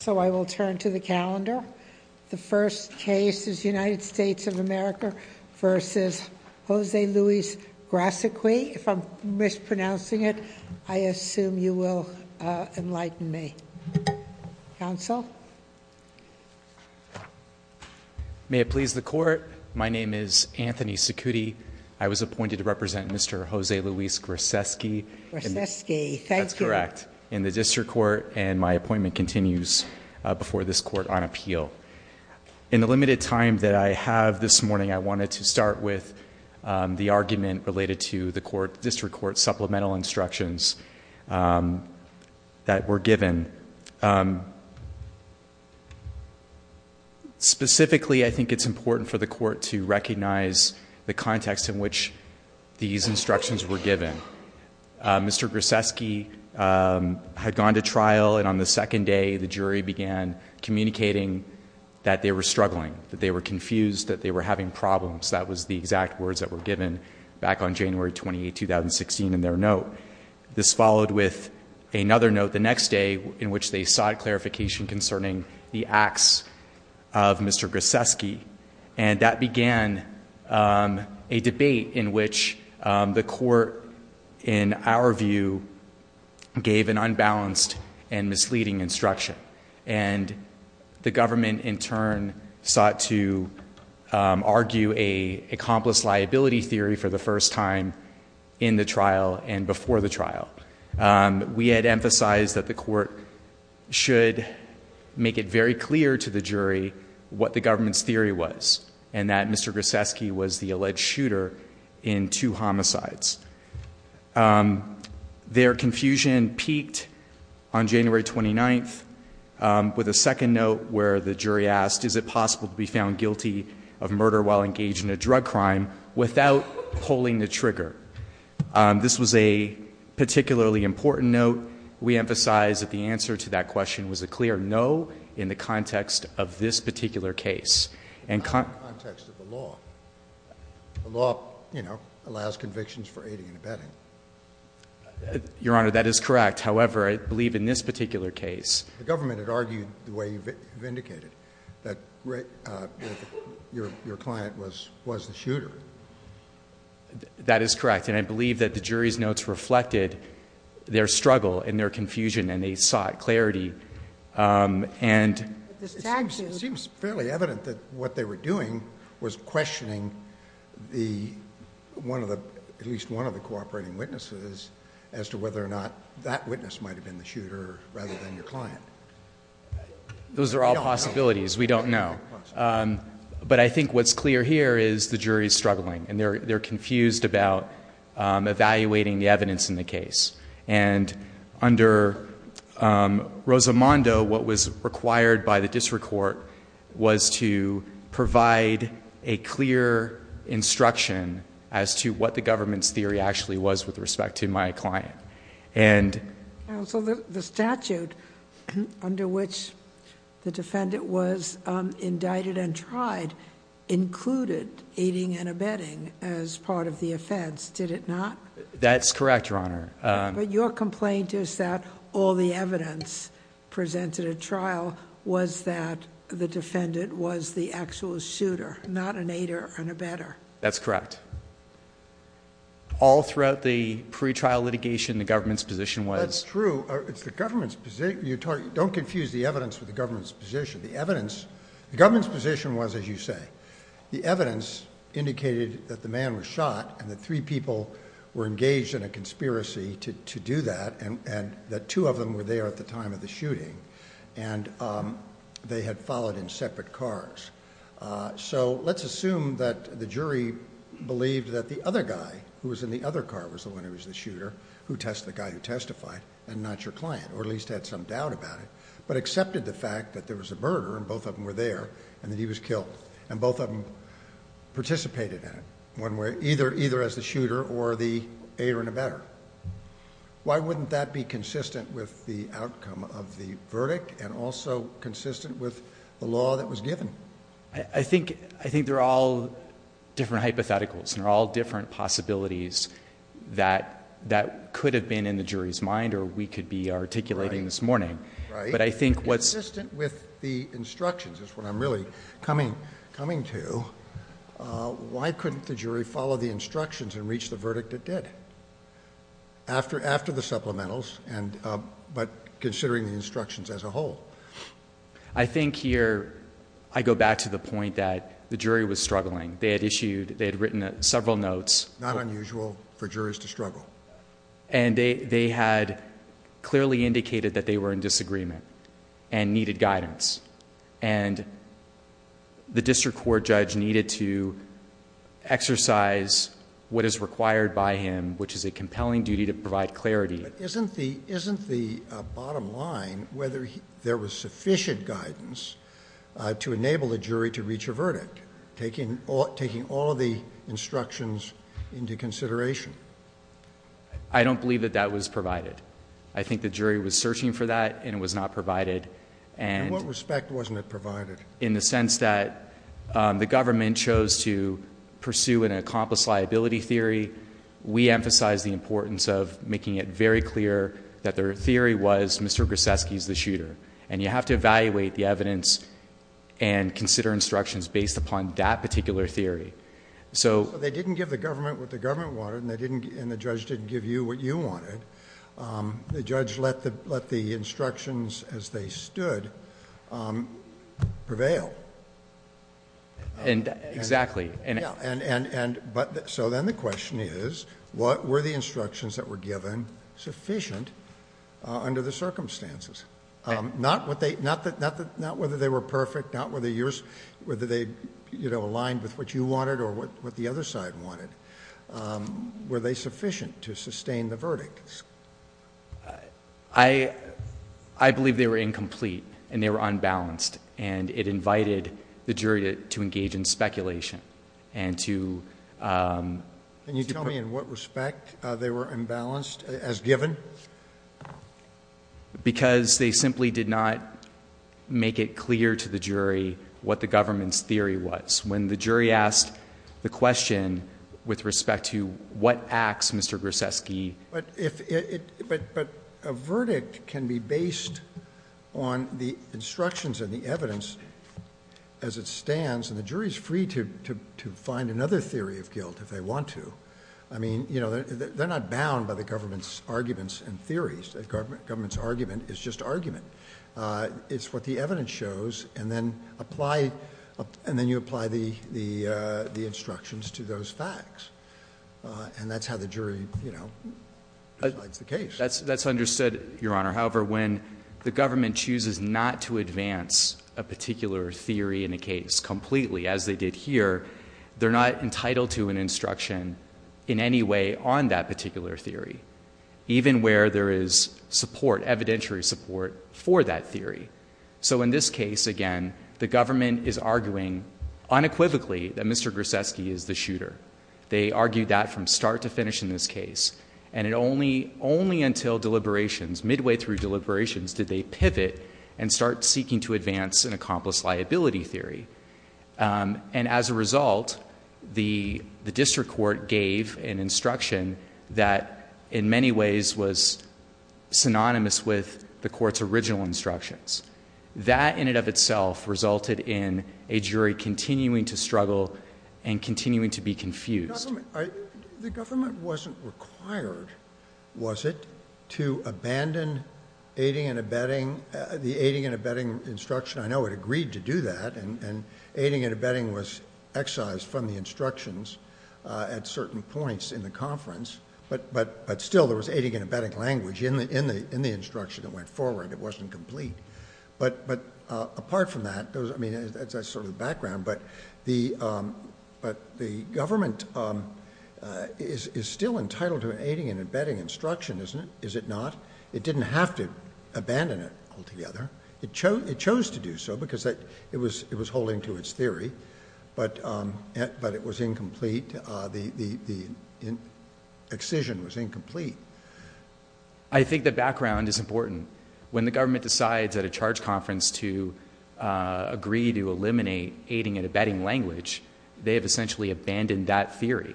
So I will turn to the calendar. The first case is United States of America v. Jose Luis Grasecki. If I'm mispronouncing it, I assume you will enlighten me. Counsel? May it please the court. My name is Anthony Secuti. I was appointed to represent Mr. Jose Luis Grasecki. Grasecki, thank you. That's correct. In the district court, and my appointment continues before this court on appeal. In the limited time that I have this morning, I wanted to start with the argument related to the district court supplemental instructions that were given. Specifically, I think it's important for the court to recognize the context in which these instructions were given. Mr. Grasecki had gone to trial. And on the second day, the jury began communicating that they were struggling, that they were confused, that they were having problems. That was the exact words that were given back on January 28, 2016 in their note. This followed with another note the next day, in which they sought clarification concerning the acts of Mr. Grasecki. And that began a debate in which the court, in our view, gave an unbalanced and misleading instruction. And the government, in turn, sought to argue a accomplice liability theory for the first time in the trial and before the trial. We had emphasized that the court should make it very clear to the jury what the government's theory was, and that Mr. Grasecki was the alleged shooter in two homicides. Their confusion peaked on January 29 with a second note where the jury asked, is it possible to be found guilty of murder while engaged in a drug crime without pulling the trigger? This was a particularly important note. We emphasized that the answer to that question was a clear no in the context of this particular case. Not in the context of the law. The law allows convictions for aiding and abetting. Your Honor, that is correct. However, I believe in this particular case. The government had argued the way you've indicated, that your client was the shooter. That is correct. And I believe that the jury's notes reflected their struggle and their confusion, and they sought clarity. And it seems fairly evident that what they were doing was questioning at least one of the cooperating witnesses as to whether or not that witness might have been the shooter rather than your client. Those are all possibilities. We don't know. But I think what's clear here is the jury's struggling. And they're confused about evaluating the evidence in the case. And under Rosamondo, what was required by the district court was to provide a clear instruction as to what the government's theory actually was with respect to my client. So the statute under which the defendant was indicted and tried included aiding and abetting as part of the offense, did it not? That's correct, Your Honor. But your complaint is that all the evidence presented at trial was that the defendant was the actual shooter, not an aider and abetter. That's correct. All throughout the pretrial litigation, the government's position was. That's true. Don't confuse the evidence with the government's position. The government's position was, as you say, the evidence indicated that the man was shot and that three people were engaged in a conspiracy to do that, and that two of them were there at the time of the shooting. And they had followed in separate cars. So let's assume that the jury believed that the other guy who was in the other car was the one who was the shooter, the guy who testified, and not your client, or at least had some doubt about it, but accepted the fact that there was a murder, and both of them were there, and that he was killed. And both of them participated in it. Either as the shooter or the aider and abetter. Why wouldn't that be consistent with the outcome of the verdict and also consistent with the law that was given? I think they're all different hypotheticals, and they're all different possibilities that could have been in the jury's mind, or we could be articulating this morning. But I think what's. Consistent with the instructions is what I'm really coming to. Why couldn't the jury follow the instructions and reach the verdict it did? After the supplementals, but considering the instructions as a whole. I think here I go back to the point that the jury was struggling. They had issued, they had written several notes. Not unusual for jurors to struggle. And they had clearly indicated that they were in disagreement and needed guidance. And the district court judge needed to exercise what is required by him, which is a compelling duty to provide clarity. Isn't the bottom line whether there was sufficient guidance to enable a jury to reach a verdict, taking all of the instructions into consideration? I don't believe that that was provided. I think the jury was searching for that, and it was not provided. In what respect wasn't it provided? In the sense that the government chose to pursue an accomplice liability theory. We emphasize the importance of making it very clear that their theory was Mr. Grzeski is the shooter. And you have to evaluate the evidence and consider instructions based upon that particular theory. So they didn't give the government what the government wanted, and the judge didn't give you what you wanted. The judge let the instructions as they stood prevail. And exactly. So then the question is, what were the instructions that were given sufficient under the circumstances? Not whether they were perfect, not whether they aligned with what you wanted or what the other side wanted. Were they sufficient to sustain the verdict? I believe they were incomplete, and they were unbalanced. And it invited the jury to engage in speculation. And to- Can you tell me in what respect they were imbalanced as given? Because they simply did not make it clear to the jury what the government's theory was. When the jury asked the question with respect to what acts Mr. Grzeski- But a verdict can be based on the instructions and the evidence as it stands. And the jury is free to find another theory of guilt if they want to. I mean, they're not bound by the government's arguments and theories. Government's argument is just argument. It's what the evidence shows. And then you apply the instructions to those facts. And that's how the jury decides the case. That's understood, Your Honor. However, when the government chooses not to advance a particular theory in a case completely as they did here, they're not entitled to an instruction in any way on that particular theory, even where there is support, evidentiary support, for that theory. So in this case, again, the government is arguing unequivocally that Mr. Grzeski is the shooter. They argued that from start to finish in this case. And only until deliberations, midway through deliberations, did they pivot and start seeking to advance an accomplice liability theory. And as a result, the district court gave an instruction that in many ways was synonymous with the court's original instructions. That, in and of itself, resulted in a jury continuing to struggle and continuing to be confused. The government wasn't required, was it, to abandon the aiding and abetting instruction. I know it agreed to do that. And aiding and abetting was excised from the instructions at certain points in the conference. But still, there was aiding and abetting language in the instruction that went forward. It wasn't complete. But apart from that, I mean, that's sort of the background. But the government is still entitled to an aiding and abetting instruction, isn't it? Is it not? It didn't have to abandon it altogether. It chose to do so because it was holding to its theory. But it was incomplete. Excision was incomplete. I think the background is important. When the government decides at a charge conference to agree to eliminate aiding and abetting language, they have essentially abandoned that theory.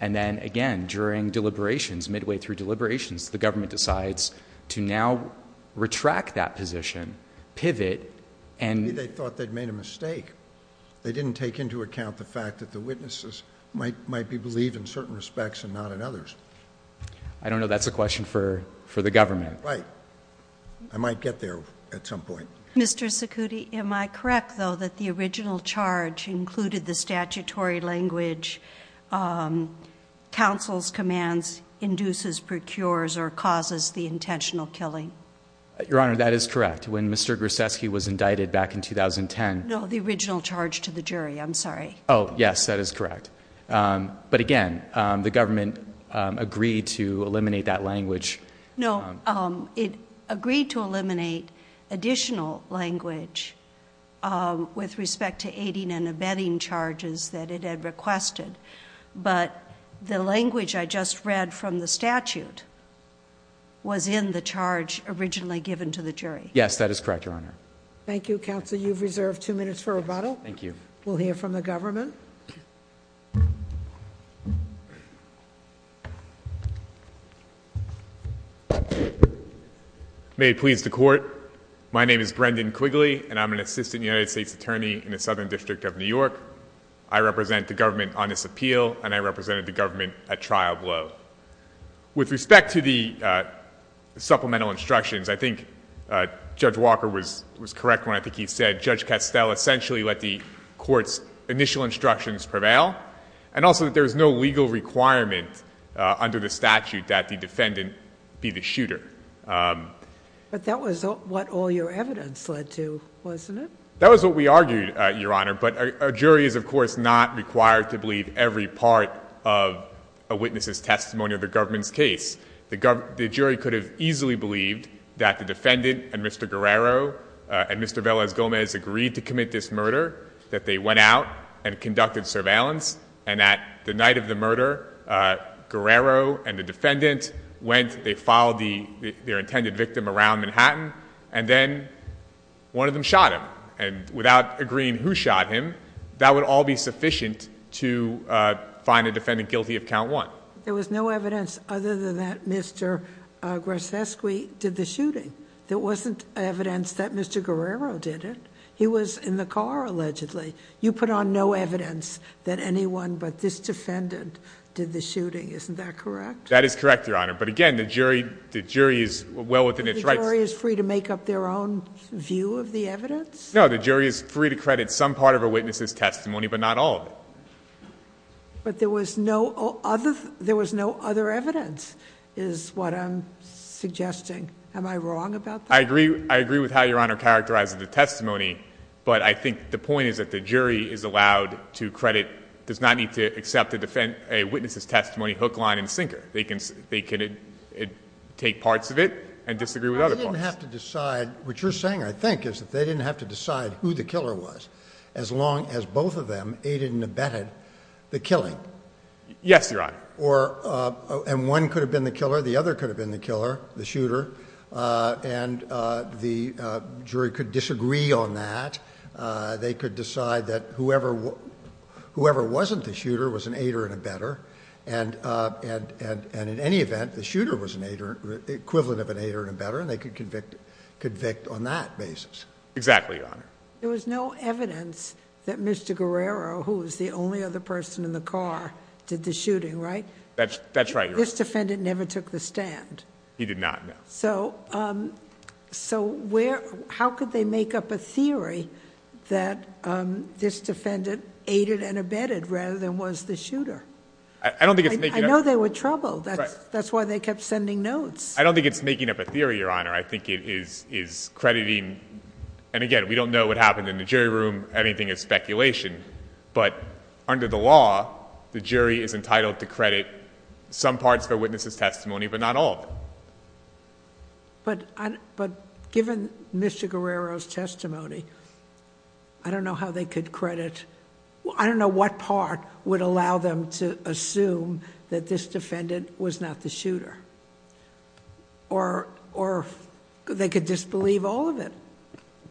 And then again, during deliberations, midway through deliberations, the government decides to now retract that position, pivot, and- Maybe they thought they'd made a mistake. They didn't take into account the fact that the witnesses might be believed in certain respects and not in others. I don't know if that's a question for the government. Right. I might get there at some point. Mr. Cicutti, am I correct, though, that the original charge included the statutory language, counsel's commands, induces, procures, or causes the intentional killing? Your Honor, that is correct. When Mr. Grzeski was indicted back in 2010- No, the original charge to the jury. I'm sorry. Oh, yes. That is correct. But again, the government agreed to eliminate that language. No, it agreed to eliminate additional language with respect to aiding and abetting charges that it had requested. But the language I just read from the statute was in the charge originally given to the jury. Yes, that is correct, Your Honor. Thank you, counsel. You've reserved two minutes for rebuttal. Thank you. We'll hear from the government. May it please the court. My name is Brendan Quigley, and I'm an assistant United States attorney in the Southern District of New York. I represent the government on this appeal, and I represented the government at trial below. With respect to the supplemental instructions, I think Judge Walker was correct when I think he said, Judge Castell essentially let the court's initial instructions prevail, and also that there is no legal requirement under the statute that the defendant be the shooter. But that was what all your evidence led to, wasn't it? That was what we argued, Your Honor. But a jury is, of course, not required to believe every part of a witness' testimony of the government's case. The jury could have easily believed that the defendant and Mr. Guerrero and Mr. Velez-Gomez agreed to commit this murder, that they went out and conducted surveillance, and that the night of the murder, Guerrero and the defendant went, they followed their intended victim around Manhattan, and then one of them shot him. And without agreeing who shot him, that would all be sufficient to find a defendant guilty of count one. There was no evidence other than that Mr. Grzeski did the shooting. There wasn't evidence that Mr. Guerrero did it. He was in the car, allegedly. You put on no evidence that anyone but this defendant did the shooting. Isn't that correct? That is correct, Your Honor. But again, the jury is well within its rights. The jury is free to make up their own view of the evidence? No, the jury is free to credit some part of a witness' testimony, but not all of it. But there was no other evidence, is what I'm suggesting. Am I wrong about that? I agree with how Your Honor characterizes the testimony, but I think the point is that the jury is allowed to credit, does not need to accept a witness' testimony hook, line, and sinker. They can take parts of it and disagree with other parts. They didn't have to decide. What you're saying, I think, is that they didn't have to decide who the killer was, as long as both of them aided and abetted the killing. Yes, Your Honor. And one could have been the killer, the other could have been the killer, the shooter, and the jury could disagree on that. They could decide that whoever wasn't the shooter was an aider and abetter. And in any event, the shooter was equivalent of an aider and abetter, and they could convict on that basis. Exactly, Your Honor. There was no evidence that Mr. Guerrero, who was the only other person in the car, did the shooting, right? That's right, Your Honor. This defendant never took the stand. He did not, no. So how could they make up a theory that this defendant aided and abetted, rather than was the shooter? I don't think it's making up a theory. I know they were troubled. That's why they kept sending notes. I don't think it's making up a theory, Your Honor. I think it is crediting, and again, we don't know what happened in the jury room, anything is speculation, but under the law, the jury is entitled to credit some parts of a witness's testimony, but not all of it. But given Mr. Guerrero's testimony, I don't know how they could credit, I don't know what part would allow them to assume that this defendant was not the shooter. Or they could disbelieve all of it.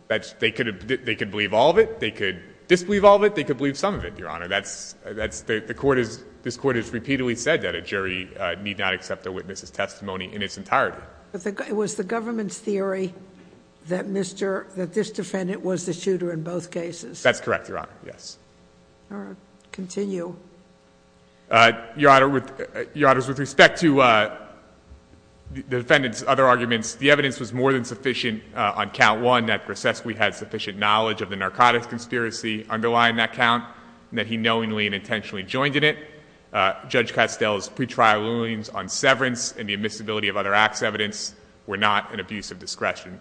They could believe all of it. They could believe some of it, Your Honor. That's, the court has, this court has repeatedly said that a jury need not accept a witness's testimony in its entirety. It was the government's theory that Mr., that this defendant was the shooter in both cases. That's correct, Your Honor, yes. All right, continue. Your Honor, with respect to the defendant's other arguments, the evidence was more than sufficient on count one, that Grosetsky had sufficient knowledge of the narcotics conspiracy underlying that count, and that he knowingly and intentionally joined in it. Judge Castell's pretrial rulings on severance and the admissibility of other acts evidence were not an abuse of discretion.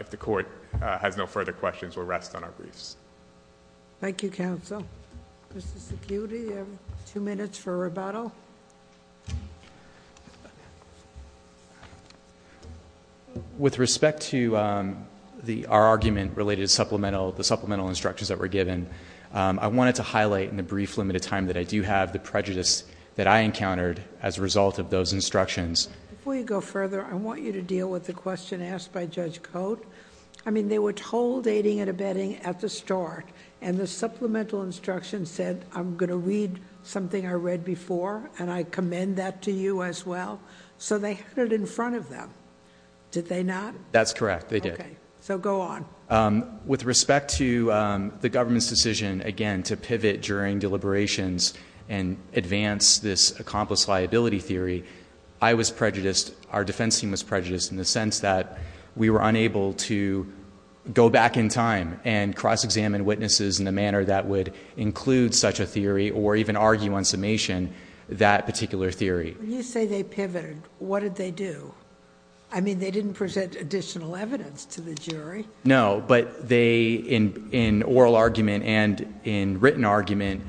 If the court has no further questions, we'll rest on our briefs. Thank you, counsel. Mr. Security, you have two minutes for rebuttal. With respect to our argument related to supplemental, the supplemental instructions that were given, I wanted to highlight in a brief limited time that I do have the prejudice that I encountered as a result of those instructions. Before you go further, I want you to deal with the question asked by Judge Cote. I mean, they were told aiding and abetting at the start, and the supplemental instruction said, I'm gonna read something I read before, and I commend that to you as well. So they had it in front of them. Did they not? That's correct, they did. So go on. With respect to the government's decision, again, to pivot during deliberations and advance this accomplice liability theory, I was prejudiced, our defense team was prejudiced in the sense that we were unable to go back in time and cross-examine witnesses in a manner that would include such a theory or even argue on summation that particular theory. When you say they pivoted, what did they do? I mean, they didn't present additional evidence to the jury. No, but they, in oral argument and in written argument,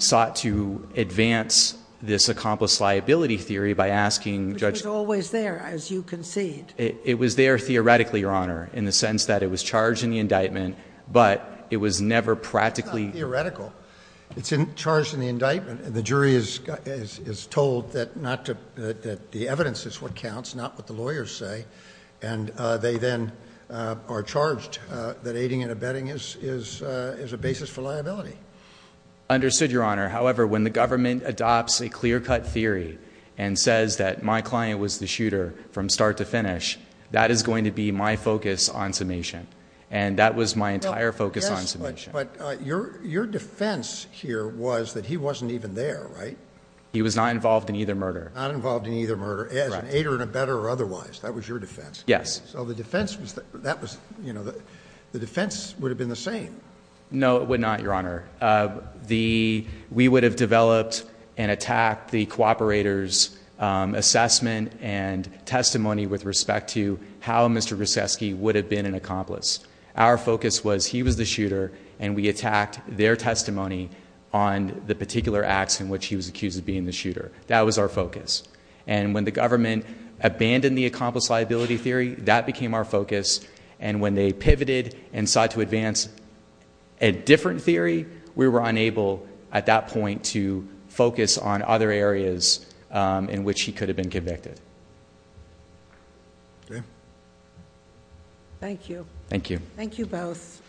sought to advance this accomplice liability theory by asking Judge- Which was always there, as you concede. It was there theoretically, Your Honor, in the sense that it was charged in the indictment, but it was never practically- It's not theoretical. It's charged in the indictment, and the jury is told that the evidence is what counts, not what the lawyers say, and they then are charged that aiding and abetting is a basis for liability. Understood, Your Honor. However, when the government adopts a clear-cut theory and says that my client was the shooter from start to finish, that is going to be my focus on summation, and that was my entire focus on summation. But your defense here was that he wasn't even there, right? He was not involved in either murder. Not involved in either murder, as an aider and abetter or otherwise. That was your defense. Yes. So the defense would have been the same. No, it would not, Your Honor. We would have developed and attacked the cooperator's assessment and testimony with respect to how Mr. Grzeski would have been an accomplice. Our focus was he was the shooter, and we attacked their testimony on the particular acts in which he was accused of being the shooter. That was our focus. And when the government abandoned the accomplice liability theory, that became our focus. And when they pivoted and sought to advance a different theory, we were unable, at that point, to focus on other areas in which he could have been convicted. Okay. Thank you. Thank you. Thank you both.